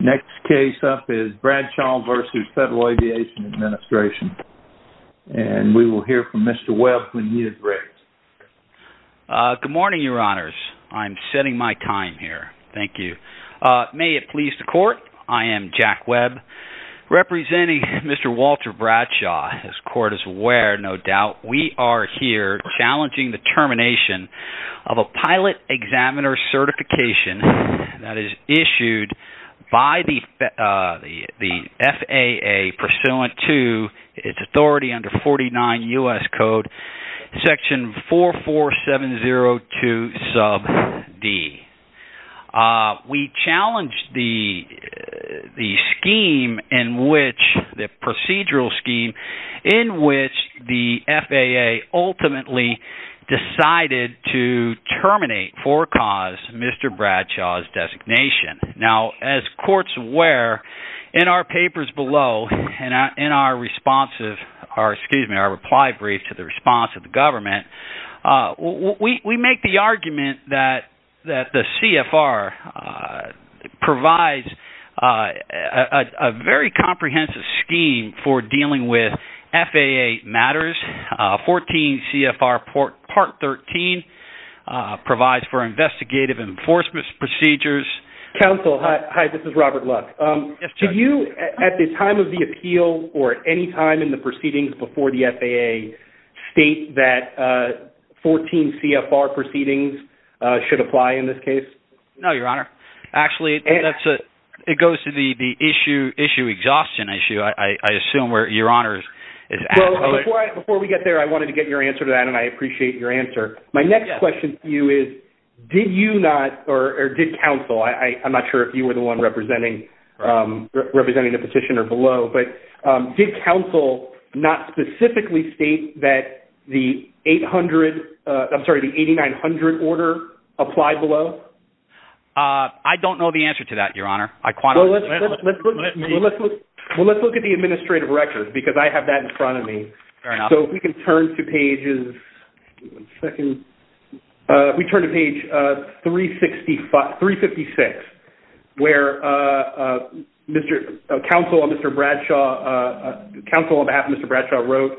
Next case up is Bradshaw v. Federal Aviation Administration and we will hear from Mr. Webb when he is ready. Good morning your honors, I'm setting my time here, thank you. May it please the court, I am Jack Webb representing Mr. Walter Bradshaw, as court is aware no doubt we are here challenging the termination of a pilot examiner certification that is by the FAA pursuant to its authority under 49 U.S. Code section 44702 sub d. We challenge the scheme in which, the procedural scheme in which the FAA ultimately decided to terminate for cause Mr. Bradshaw's designation. Now as courts aware in our papers below and in our response, excuse me, our reply brief to the response of the government, we make the argument that the CFR provides a very comprehensive scheme for dealing with FAA matters, 14 CFR part 13 provides for investigative enforcement procedures. Counsel hi this is Robert Luck, do you at the time of the appeal or at any time in the proceedings before the FAA state that 14 CFR proceedings should apply in this case? No your honor, actually it goes to the issue exhaustion issue I assume where your honors is. Before we get there I wanted to get your answer to that and I appreciate your answer. My next question to you is, did you not or did counsel, I'm not sure if you were the one representing the petitioner below, but did counsel not specifically state that the 800, I'm sorry the 8900 order applied below? I don't know the answer to that your honor. Well let's look at the administrative record because I have that in front of me, so if we can turn to pages, we turn to page 356 where counsel on behalf of Mr. Bradshaw wrote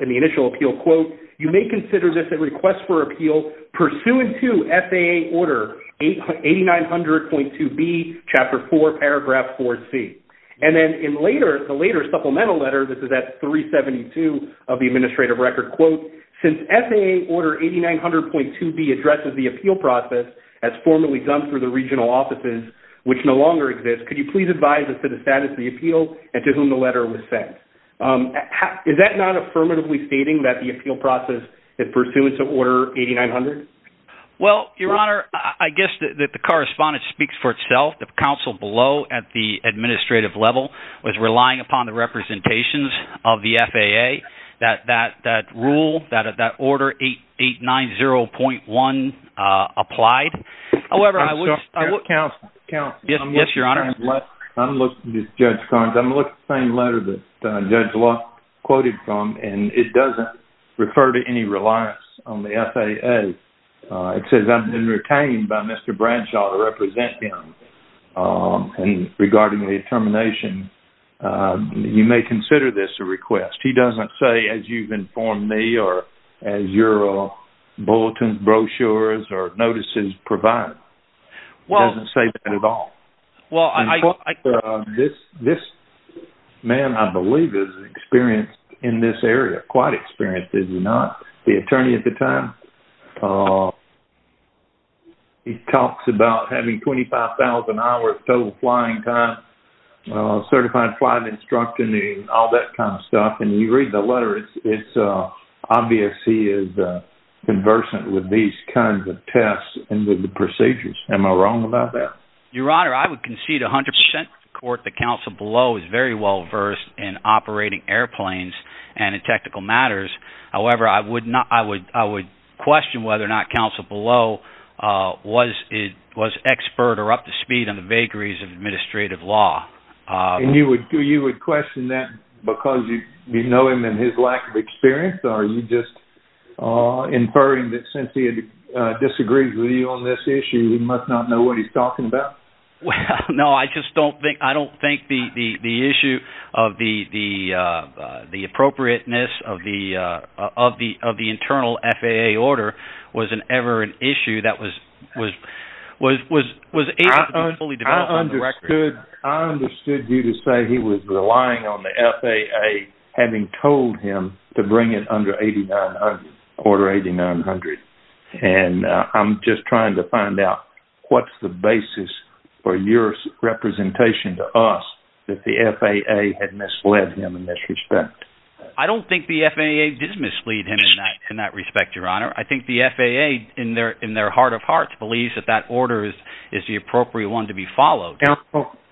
in the initial appeal quote, you may consider this a request for appeal pursuant to FAA order 8900.2B chapter 4 paragraph 4C. And then in later, the later supplemental letter, this is at 372 of the administrative record quote, since FAA order 8900.2B addresses the appeal process as formally done through the regional offices which no longer exist, could you please advise us of the status of the appeal and to whom the letter was sent? Is that not affirmatively stating that the appeal process is pursuant to order 8900? Well your honor, I guess that the correspondence speaks for itself. The counsel below at the administrative level was relying upon the representations of the FAA that that rule, that order 890.1 applied, however, I would counsel, yes your honor? I'm looking at Judge Carnes, I'm looking at the same letter that Judge Locke quoted from and it doesn't refer to any reliance on the FAA, it says I've been retained by Mr. Bradshaw to represent him and regarding the termination, you may consider this a request. He doesn't say as you've informed me or as your bulletin brochures or notices provide, he doesn't say that at all. This man, I believe, is experienced in this area, quite experienced, is he not? The attorney at the time, he talks about having 25,000 hours total flying time, certified flight instructor and all that kind of stuff and you read the letter, it's obvious he is conversant with these kinds of tests and with the procedures, am I wrong about that? Your honor, I would concede 100% the court, the counsel below is very well versed in operating airplanes and in technical matters, however, I would question whether or not counsel below was expert or up to speed on the vagaries of administrative law. And you would question that because you know him and his lack of experience or are you just inferring that since he disagrees with you on this issue, he must not know what he's talking about? No, I just don't think the issue of the appropriateness of the internal FAA order was ever an issue that was able to be fully developed on the record. I understood you to say he was relying on the FAA having told him to bring it under order 8900 and I'm just trying to find out what's the basis for your representation to us that the FAA had misled him in this respect. I don't think the FAA did mislead him in that respect, your honor. I think the FAA in their heart of hearts believes that that order is the appropriate one to be followed.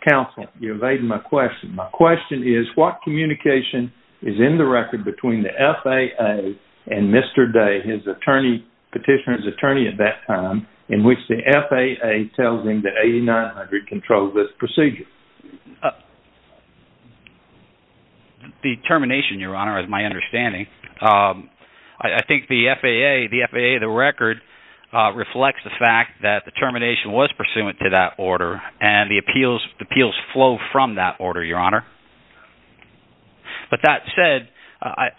Counsel, you're evading my question. My question is what communication is in the record between the FAA and Mr. Day, his attorney, petitioner's attorney at that time, in which the FAA tells him that 8900 controls this procedure? The termination, your honor, is my understanding. I think the FAA, the FAA, the record reflects the fact that the termination was pursuant to that order and the appeals flow from that order, your honor. But that said,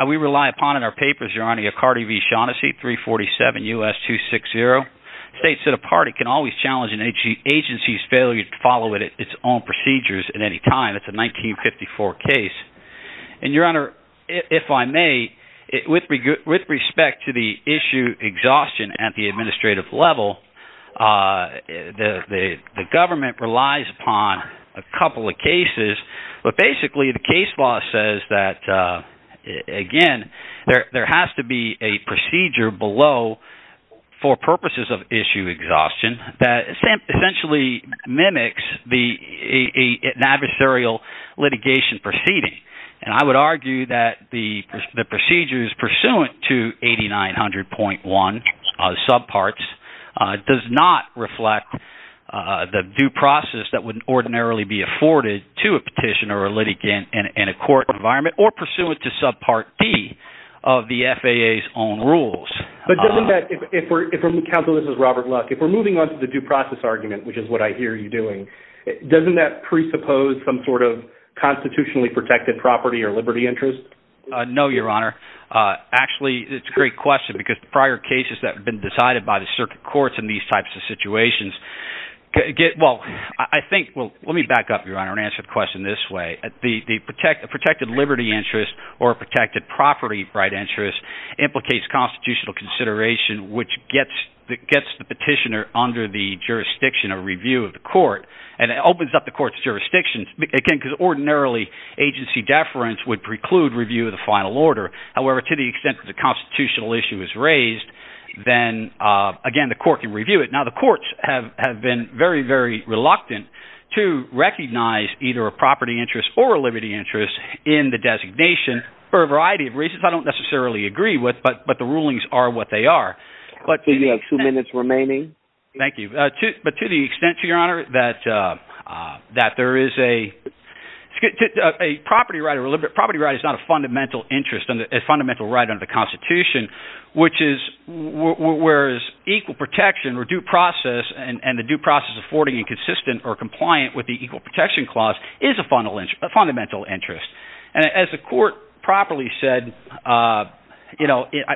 we rely upon in our papers, your honor, the Acardi v. Shaughnessy 347 U.S. 260 states that a party can always challenge an agency's failure to follow its own procedures at any time. It's a 1954 case. And your honor, if I may, with respect to the issue exhaustion at the administrative level, the government relies upon a couple of cases. But basically, the case law says that, again, there has to be a procedure below for purposes of issue exhaustion that essentially mimics an adversarial litigation proceeding. And I would argue that the procedures pursuant to 8900.1 subparts does not reflect the due process that would ordinarily be afforded to a petition or a litigant in a court environment or pursuant to subpart D of the FAA's own rules. But doesn't that, if we're, counsel, this is Robert Luck, if we're moving on to the due process argument, which is what I hear you doing, doesn't that presuppose some sort of constitutionally protected property or liberty interest? No, your honor. Actually, it's a great question because prior cases that have been let me back up, your honor, and answer the question this way. The protected liberty interest or protected property right interest implicates constitutional consideration, which gets the petitioner under the jurisdiction of review of the court. And it opens up the court's jurisdictions, again, because ordinarily agency deference would preclude review of the final order. However, to the extent that the constitutional issue is raised, then, again, the court can review it. The courts have been very, very reluctant to recognize either a property interest or a liberty interest in the designation for a variety of reasons. I don't necessarily agree with, but the rulings are what they are. We have two minutes remaining. Thank you. But to the extent, your honor, that there is a property right is not a fundamental right under the Constitution, whereas equal protection or due process and the due process affording and consistent or compliant with the Equal Protection Clause is a fundamental interest. And as the court properly said,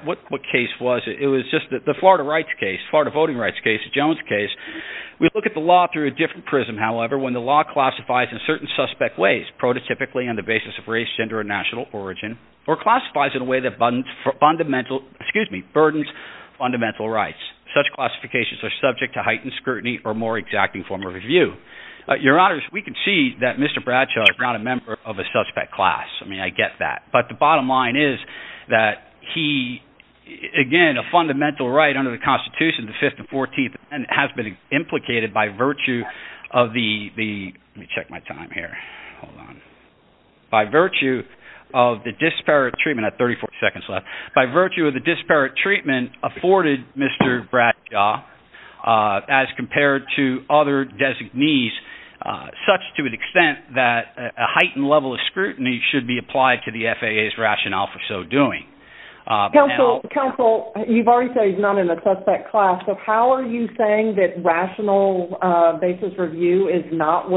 what case was it? It was just the Florida voting rights case, the Jones case. We look at the law through a different prism, however, when the law classifies in certain suspect ways, prototypically on the basis of race, gender, and national origin, or classifies in a way that burdens fundamental rights. Such classifications are subject to heightened scrutiny or more exacting form of review. Your honors, we can see that Mr. Bradshaw is not a member of a suspect class. I mean, I get that. But the bottom line is that he, again, a fundamental right under the Constitution, the 5th and 14th, has been implicated by virtue of the, let me check my time here, hold on, by virtue of the disparate treatment, I have 34 seconds left, by virtue of the disparate treatment afforded Mr. Bradshaw, as compared to other designees, such to an extent that a heightened level of scrutiny should be applied to the FAA's rationale for so doing. Counsel, you've already said he's not in a suspect class, so how are you saying that rational basis review is not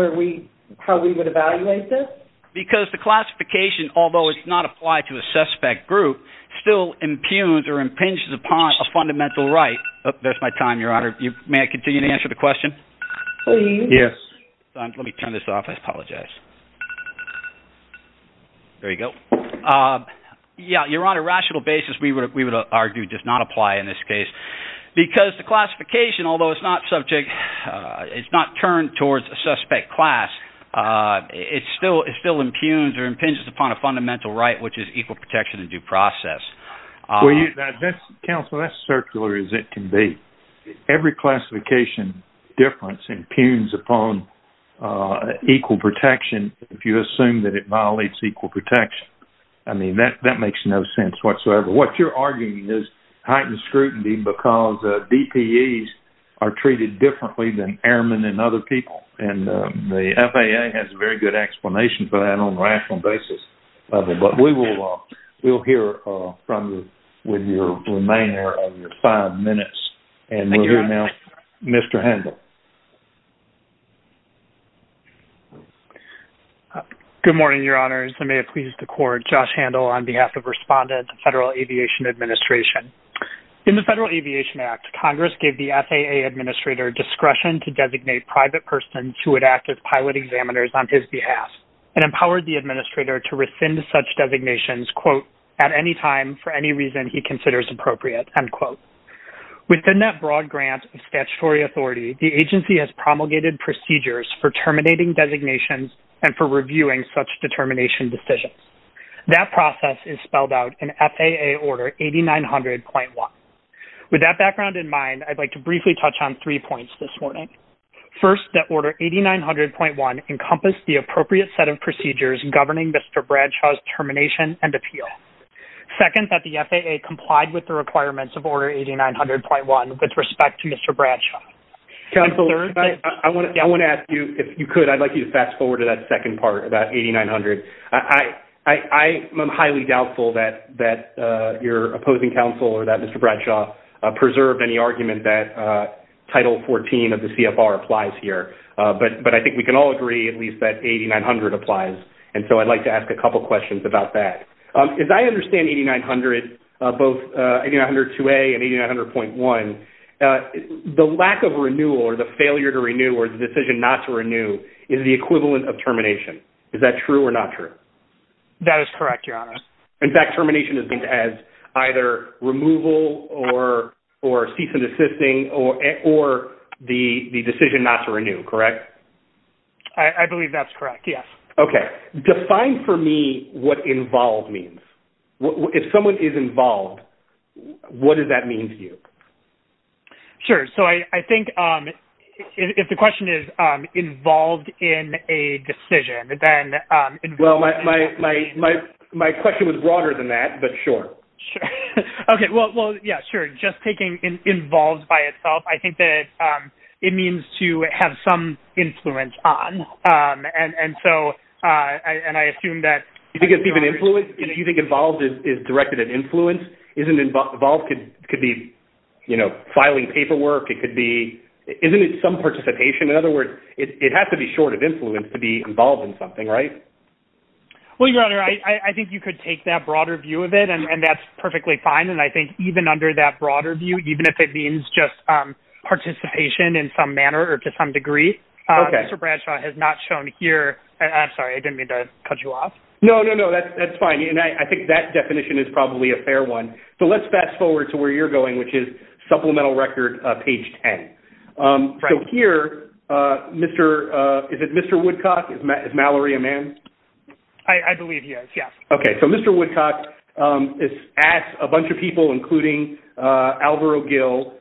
how we would evaluate this? Because the classification, although it's not applied to a suspect group, still impugns or impinges upon a fundamental right. There's my time, your honor. May I continue to answer the question? Please. Yes. Let me turn this off, I apologize. There you go. Yeah, your honor, rational basis, we would argue, does not apply in this case. Because the classification, although it's not subject, it's not turned towards a suspect class, it still impugns or impinges upon a fundamental right, which is equal protection and due process. Counsel, that's circular as it can be. Every classification difference impugns upon equal protection if you assume that it violates equal protection. I mean, that makes no sense whatsoever. What you're arguing is heightened scrutiny because DPEs are treated differently than airmen and other people. And the FAA has a very good explanation for that on a rational basis. But we will hear from you with your remainder of your five minutes. And we'll hear now Mr. Handel. Good morning, your honors. I may have pleased the court, Josh Handel, on behalf of respondent, Federal Aviation Administration. In the Federal Aviation Act, Congress gave the FAA administrator discretion to designate private persons who would act as pilot examiners on his behalf and empowered the administrator to rescind such designations, quote, at any time for any reason he considers appropriate, end quote. Within that broad grant of statutory authority, the agency has promulgated procedures for terminating designations and for reviewing such determination decisions. That process is spelled out in FAA Order 8900.1. With that background in mind, I'd like to briefly touch on three points this morning. First, that Order 8900.1 encompassed the appropriate set of procedures governing Mr. Bradshaw's termination and appeal. Second, that the FAA complied with the requirements of Mr. Bradshaw. Counselor, I want to ask you if you could, I'd like you to fast forward to that second part about 8900. I'm highly doubtful that your opposing counsel or that Mr. Bradshaw preserved any argument that Title 14 of the CFR applies here. But I think we can all agree at least that 8900 applies. And so I'd like to ask a couple questions about that. As I understand 8900, both 8900.2a and 8900.1, the lack of renewal or the failure to renew or the decision not to renew is the equivalent of termination. Is that true or not true? That is correct, Your Honor. In fact, termination is either removal or cease and desisting or the decision not to renew, correct? I believe that's correct, yes. Okay. Define for me what involved means. If someone is involved, what does that mean to you? Sure. So I think if the question is involved in a decision, then... Well, my question was broader than that, but sure. Okay. Well, yeah, sure. Just taking involved by itself, I think that it means to have some influence on. And so, and I assume that... Do you think it's even influence? Do you think involved is directed at influence? Isn't involved could be filing paperwork. Isn't it some participation? In other words, it has to be short of influence to be involved in something, right? Well, Your Honor, I think you could take that broader view of it, and that's perfectly fine. And I think even under that broader view, even if it means just participation in some manner or to some degree, Mr. Bradshaw has not shown here... I'm sorry. I didn't mean to cut you off. No, no, no. That's fine. And I think that definition is probably a fair one. So let's fast forward to where you're going, which is supplemental record page 10. So here, is it Mr. Woodcock? Is Mallory a man? I believe he is, yes. Okay. So Mr. Woodcock has asked a bunch of people, including Alvaro Gill,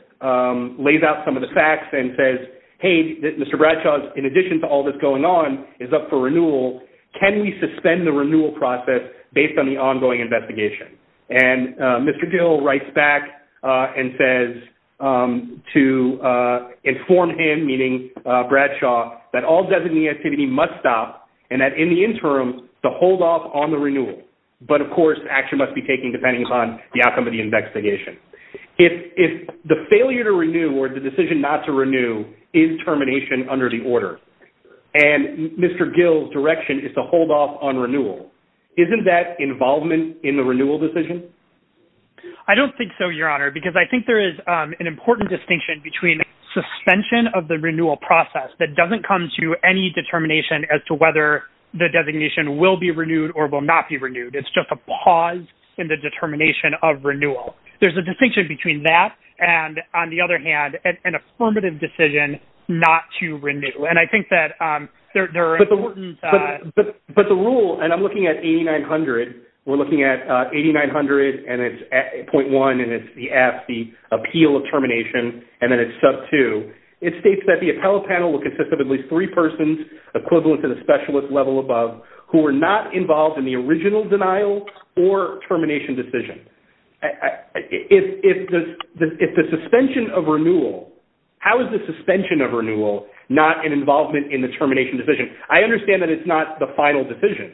lays out some of the facts and says, hey, Mr. Bradshaw, in addition to all that's going on, is up for renewal, can we suspend the renewal process based on the ongoing investigation? And Mr. Gill writes back and says to inform him, meaning Bradshaw, that all designee activity must stop, and that in the interim, to hold off on the renewal. But of course, action must be taken depending upon the outcome of the investigation. If the failure to renew or the decision not to renew is termination under the order, and Mr. Gill's direction is to hold off on renewal, isn't that involvement in the renewal decision? I don't think so, Your Honor, because I think there is an important distinction between suspension of the renewal process that doesn't come to any determination as to whether the designation will be renewed or will not be renewed. It's just a pause in the determination of renewal. There's a distinction between that and, on the other hand, an affirmative decision not to renew. And I think that there are important... But the rule, and I'm looking at 8,900, we're looking at 8,900, and it's 0.1, and it's the F, the appeal of termination, and then it's sub 2. It states that the appellate panel will consist of at least three persons equivalent to the specialist level above who were not involved in the original denial or termination decision. If the suspension of renewal, how is the suspension of renewal not an involvement in the termination decision? I understand that it's not the final decision,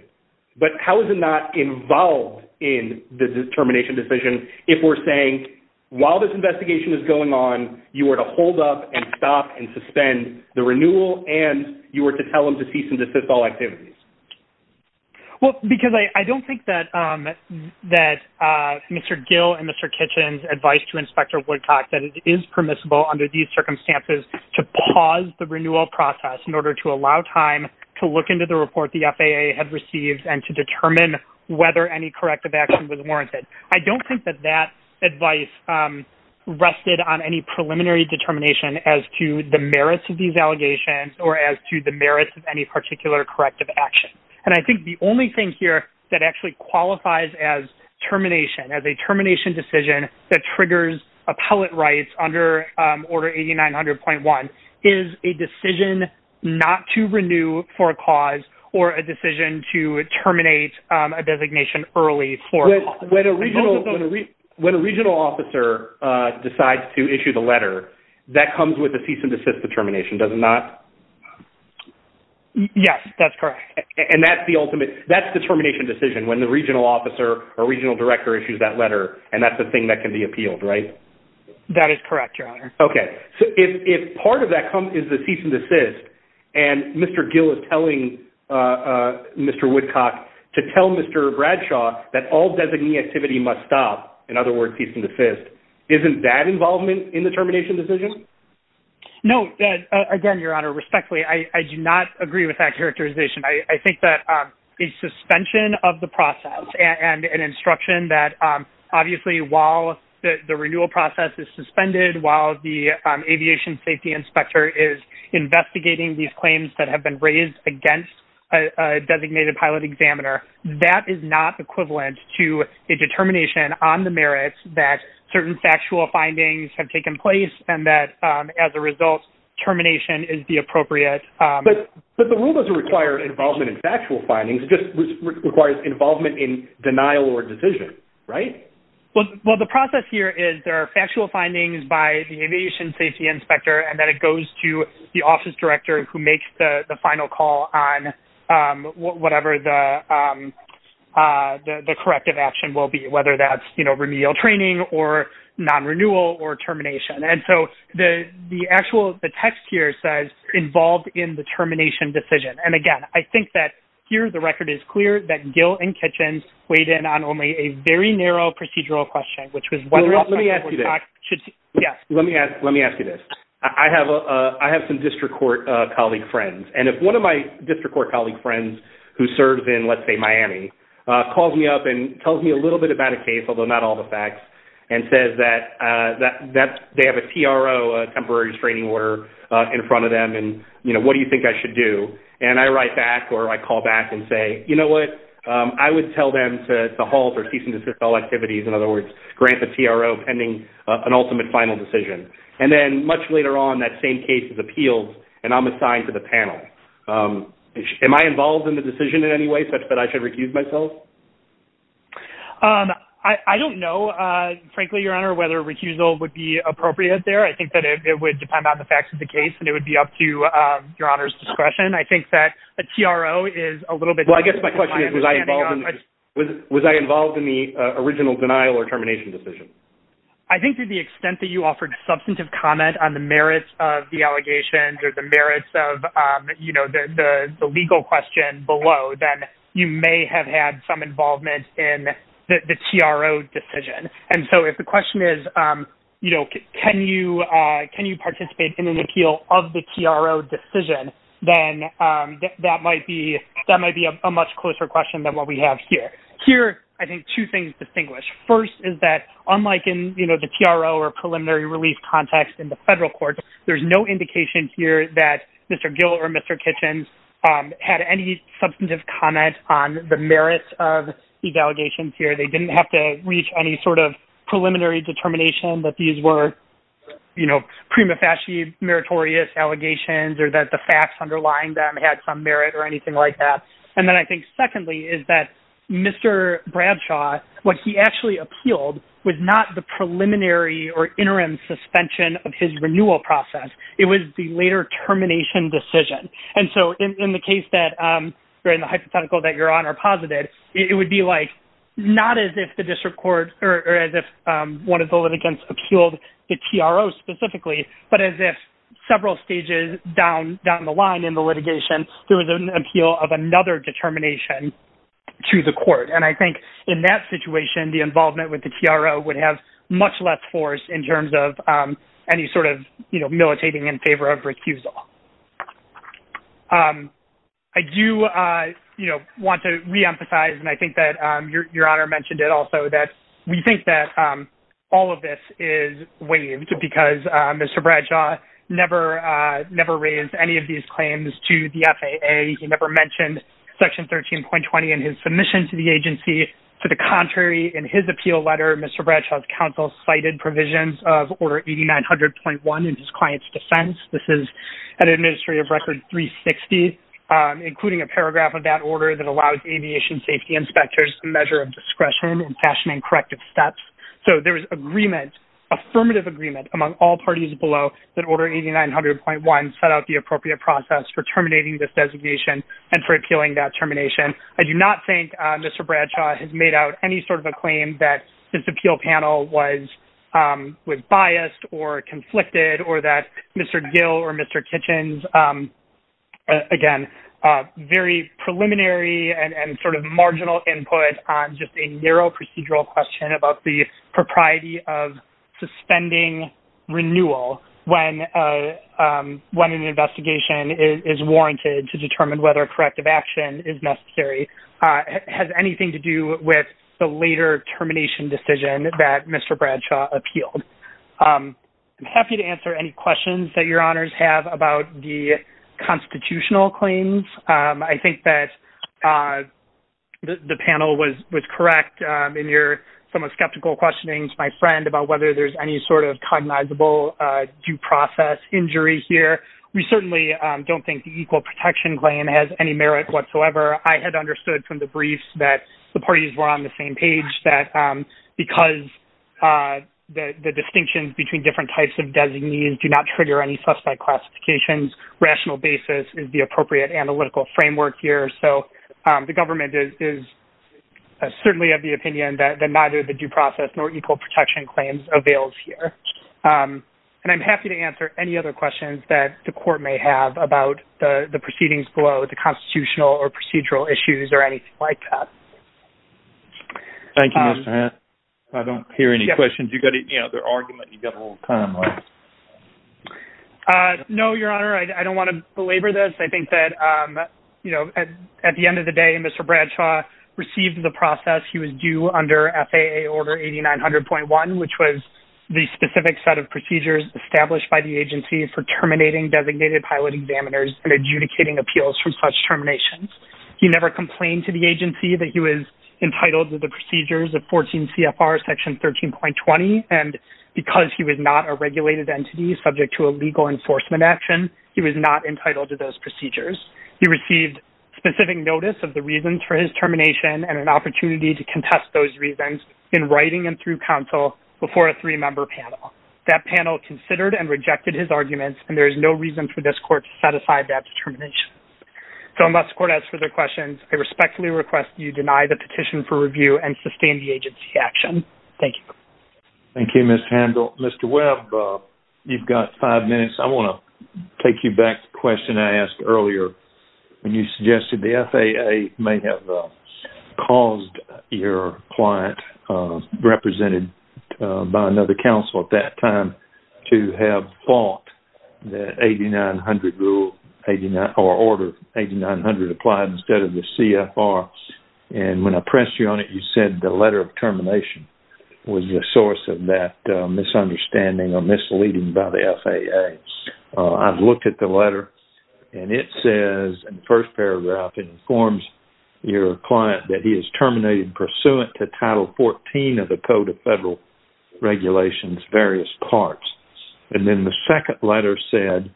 but how is it not involved in the termination decision if we're saying, while this investigation is going on, you are to hold up and stop and suspend the renewal, and you are to tell them to cease and desist all activities? Well, because I don't think that Mr. Gill and Mr. Kitchen's advice to Inspector Woodcock that it is permissible under these circumstances to pause the renewal process in order to allow time to look into the report the FAA had received and to determine whether any corrective action was warranted. I don't think that that advice rested on any preliminary determination as to the merits of these allegations or as to the merits of any particular corrective action. And I think the only thing here that actually qualifies as termination, as a termination decision that triggers appellate rights under Order 8900.1 is a decision not to renew for a cause or a decision to terminate a designation early for a cause. When a regional officer decides to issue the letter, that comes with a cease and desist determination, does it not? Yes, that's correct. And that's the ultimate, that's the termination decision when the regional officer or regional director issues that letter, and that's the thing that can be appealed, right? That is correct, Your Honor. Okay. So if part of that is the cease and desist, and Mr. Gill is telling Mr. Woodcock to tell Mr. Bradshaw that all designee activity must stop, in other words, cease and desist, isn't that in the termination decision? No. Again, Your Honor, respectfully, I do not agree with that characterization. I think that a suspension of the process and an instruction that obviously while the renewal process is suspended, while the aviation safety inspector is investigating these claims that have been raised against a designated pilot examiner, that is not equivalent to a determination on the merits that certain factual findings have taken place, and that as a result, termination is the appropriate... But the rule doesn't require involvement in factual findings, it just requires involvement in denial or decision, right? Well, the process here is there are factual findings by the aviation safety inspector, and then it goes to the office director who makes the final call on whatever the remedial training or non-renewal or termination. And so the text here says involved in the termination decision. And again, I think that here the record is clear that Gill and Kitchens weighed in on only a very narrow procedural question, which was whether... Let me ask you this. Let me ask you this. I have some district court colleague friends. And if one of my district court colleague friends who serves in, let's say, Miami, calls me up and tells me a and says that they have a TRO, a temporary restraining order, in front of them and, you know, what do you think I should do? And I write back or I call back and say, you know what, I would tell them to halt or cease and desist all activities. In other words, grant the TRO pending an ultimate final decision. And then much later on, that same case is appealed and I'm assigned to the panel. Am I involved in the decision in any way such that I should recuse myself? I don't know, frankly, Your Honor, whether recusal would be appropriate there. I think that it would depend on the facts of the case and it would be up to Your Honor's discretion. I think that a TRO is a little bit... Well, I guess my question is, was I involved in the original denial or termination decision? I think to the extent that you offered substantive comment on the merits of the allegations or the legal question below, then you may have had some involvement in the TRO decision. And so if the question is, you know, can you participate in an appeal of the TRO decision, then that might be a much closer question than what we have here. Here, I think two things distinguish. First is that unlike in, you know, the TRO or preliminary release context in the federal court, there's no indication here that Mr. Gill or Mr. Kitchens had any substantive comment on the merits of these allegations here. They didn't have to reach any sort of preliminary determination that these were, you know, prima facie meritorious allegations or that the facts underlying them had some merit or anything like that. And then I think secondly is that Mr. Bradshaw, what he actually appealed was not the preliminary or interim suspension of his renewal process. It was the later termination decision. And so in the case that, or in the hypothetical that you're on or posited, it would be like not as if the district court or as if one of the litigants appealed the TRO specifically, but as if several stages down the line in the litigation, there was an appeal of another determination to the court. And I think in that situation, the involvement with the TRO would have much less force in terms of any sort of, you know, militating in favor of recusal. I do, you know, want to reemphasize, and I think that your honor mentioned it also that we think that all of this is waived because Mr. Bradshaw never raised any of these claims to the FAA. He never mentioned section 13.20 in his submission to the agency. To the contrary, in his appeal letter, Mr. Bradshaw's counsel cited provisions of order 8900.1 in his client's defense. This is an administrative record 360, including a paragraph of that order that allows aviation safety inspectors, the measure of discretion and fashioning corrective steps. So there was agreement, affirmative agreement among all parties below that order 8900.1 set the appropriate process for terminating this designation and for appealing that termination. I do not think Mr. Bradshaw has made out any sort of a claim that this appeal panel was biased or conflicted or that Mr. Gill or Mr. Kitchens, again, very preliminary and sort of marginal input on just a narrow procedural question about the propriety of suspending renewal when an investigation is warranted to determine whether corrective action is necessary, has anything to do with the later termination decision that Mr. Bradshaw appealed. I'm happy to answer any questions that your honors have about the constitutional claims. I think that the panel was correct in your somewhat skeptical questioning to my friend about whether there's any sort of cognizable due process injury here. We certainly don't think the equal protection claim has any merit whatsoever. I had understood from the briefs that the parties were on the same page that because the distinctions between different types of designees do not trigger any suspect classifications, rational basis is the appropriate analytical framework here. So the government is certainly of the opinion that neither the due process nor equal protection claims avails here. And I'm happy to answer any other questions that the court may have about the proceedings below the constitutional or procedural issues or anything like that. Thank you, Mr. Hant. I don't hear any questions. You got it, you know, their argument you got a little time left. No, your honor, I don't want to belabor this. I think that, you know, at the end of the day, Mr. Bradshaw received the process. He was due under FAA order 8900.1, which was the specific set of procedures established by the agency for terminating designated pilot examiners and adjudicating appeals from such terminations. He never complained to the agency that he was entitled to the procedures of 14 CFR section 13.20. And because he was not a regulated entity subject to a legal enforcement action, he was not entitled to those procedures. He received specific notice of the reasons for his termination and an opportunity to contest those reasons in writing and through counsel before a three-member panel. That panel considered and rejected his arguments, and there is no reason for this court to set aside that determination. So unless the court asks further questions, I respectfully request you deny the petition for review and sustain the agency action. Thank you. Thank you, Ms. Handel. Mr. Webb, you've got five minutes. I want to take you back to the FAA. The FAA may have caused your client, represented by another counsel at that time, to have fought that 8900 rule or order 8900 applied instead of the CFR. And when I pressed you on it, you said the letter of termination was the source of that misunderstanding or misleading by the FAA. I've looked at the letter, and it says in the first paragraph, it informs your client that he is terminated pursuant to Title 14 of the Code of Federal Regulations, various parts. And then the second letter said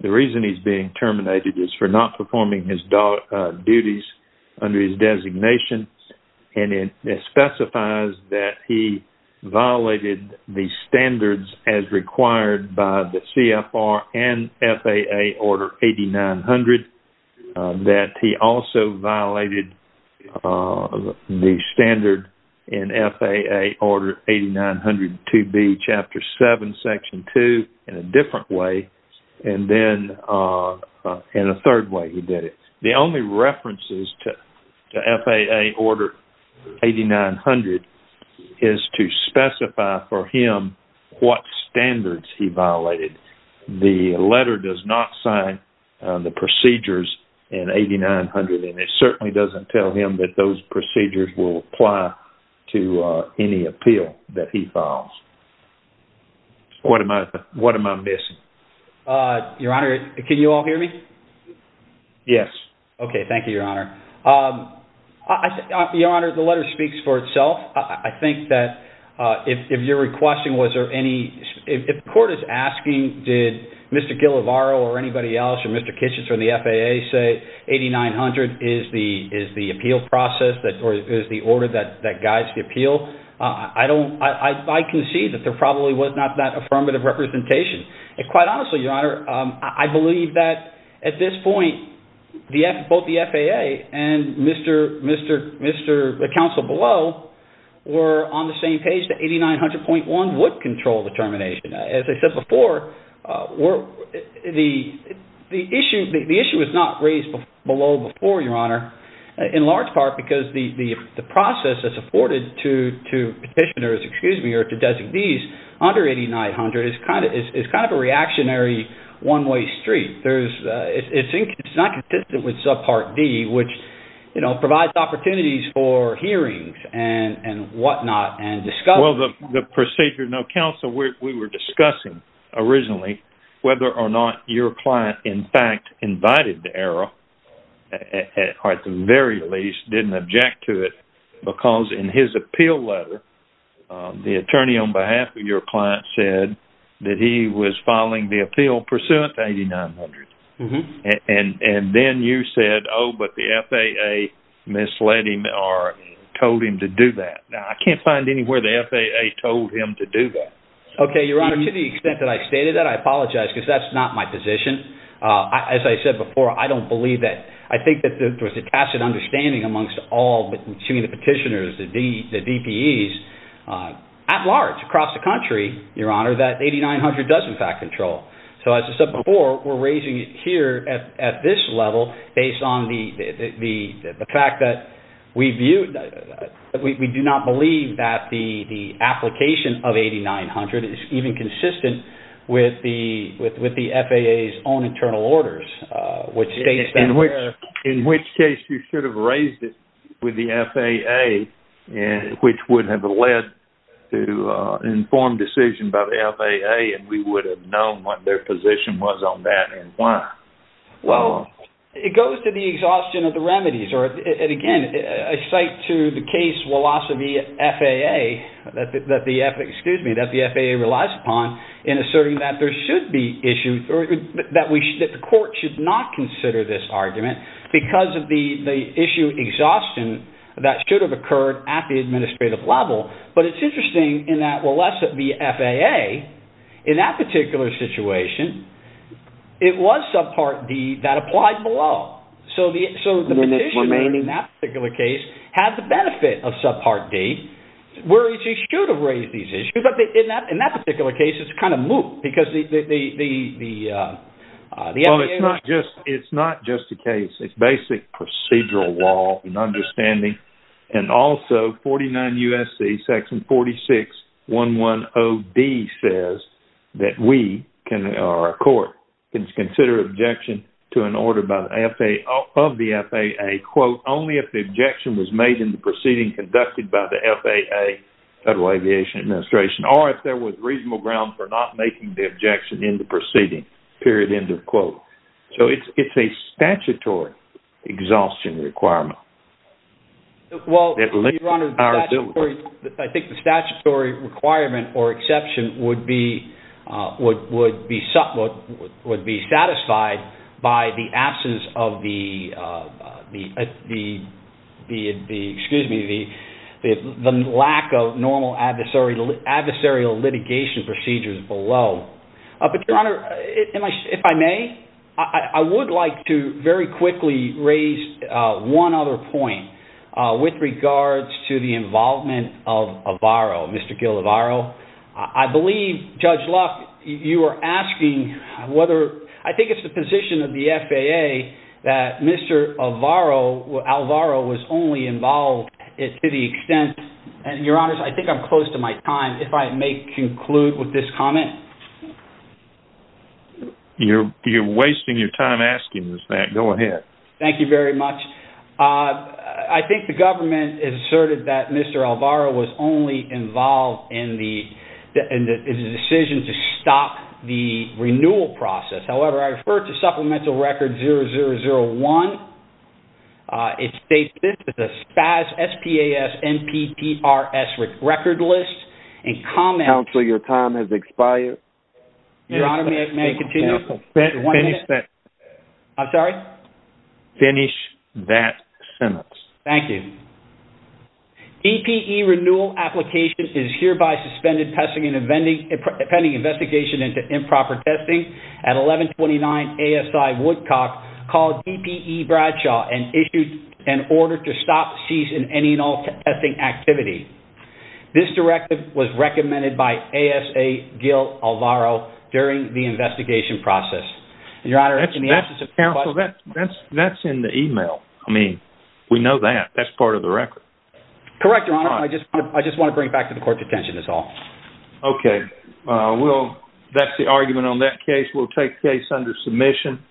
the reason he's being terminated is for not performing his duties under his designation, and it specifies that he violated the standards as required by the CFR and FAA Order 8900, that he also violated the standard in FAA Order 8900-2B Chapter 7, Section 2 in a different way, and then in a third way he did it. The only references to he violated. The letter does not sign the procedures in 8900, and it certainly doesn't tell him that those procedures will apply to any appeal that he files. What am I missing? Your Honor, can you all hear me? Yes. Okay. Thank you, Your Honor. Your Honor, the letter speaks for itself. I think that if you're requesting was there any, if the court is asking did Mr. Guillavaro or anybody else or Mr. Kitchens from the FAA say 8900 is the appeal process or is the order that guides the appeal, I can see that there probably was not that affirmative representation. And quite honestly, Your Honor, I believe that at this point, both the FAA and the counsel below were on the same page that 8900.1 would control the termination. As I said before, the issue was not raised below before, Your Honor, in large part because the process that's afforded to petitioners, excuse me, or to designees under 8900 is kind of a reactionary one-way street. It's not consistent with subpart D, which provides opportunities for hearings and whatnot and discussion. Well, the procedure, counsel, we were discussing originally whether or not your client in fact invited the error or at the very least didn't object to it because in his appeal letter, the attorney on behalf of your client said that he was filing the appeal pursuant to 8900. And then you said, oh, but the FAA misled him or told him to do that. Now, I can't find anywhere the FAA told him to do that. Okay, Your Honor, to the extent that I stated that, I apologize because that's not my position. As I said before, I don't believe that. I think that there was a tacit understanding amongst all between the petitioners, the DPEs at large across the here at this level based on the fact that we do not believe that the application of 8900 is even consistent with the FAA's own internal orders. In which case, you should have raised it with the FAA, which would have led to an informed decision by the FAA and we would have known what their position was on that and why. Well, it goes to the exhaustion of the remedies. Again, I cite to the case of the FAA that the FAA relies upon in asserting that there should be issues that the court should not consider this argument because of the issue exhaustion that should have occurred at the administrative level. But it's interesting in that the FAA in that particular situation, it was subpart D that applied below. So the petitioner in that particular case had the benefit of subpart D where he should have raised these issues. But in that particular case, it's kind of moot because the FAA... Well, it's not just the case. It's basic or a court can consider objection to an order of the FAA, quote, only if the objection was made in the proceeding conducted by the FAA, Federal Aviation Administration, or if there was reasonable ground for not making the objection in the proceeding, period, end of quote. So it's a statutory exhaustion requirement. Well, Your Honor, I think the statutory requirement or exception would be satisfied by the absence of the lack of normal adversarial litigation procedures below. But Your Honor, if I may, I would like to very quickly raise one other point with regards to involvement of Alvaro, Mr. Gil Alvaro. I believe, Judge Luck, you were asking whether... I think it's the position of the FAA that Mr. Alvaro was only involved to the extent... Your Honor, I think I'm close to my time. If I may conclude with this comment. You're wasting your time asking this, Matt. Go ahead. Thank you very much. I think the government has asserted that Mr. Alvaro was only involved in the decision to stop the renewal process. However, I refer to Supplemental Record 0001. It states this is a SPAS, S-P-A-S, N-P-P-R-S record list and comments... Counsel, your time has expired. Your Honor, may I continue? Finish that. I'm sorry? Finish that sentence. Thank you. DPE renewal application is hereby suspended pending investigation into improper testing at 1129 ASI Woodcock called DPE Bradshaw and issued an order to stop, cease, and end all testing activity. This directive was recommended by ASA Gil Alvaro during the investigation process. Your Honor, in the absence of counsel... That's in the email. I mean, we know that. That's part of the record. Correct, Your Honor. I just want to bring it back to the court's attention is all. Okay. That's the argument on that case. We'll take case under submission.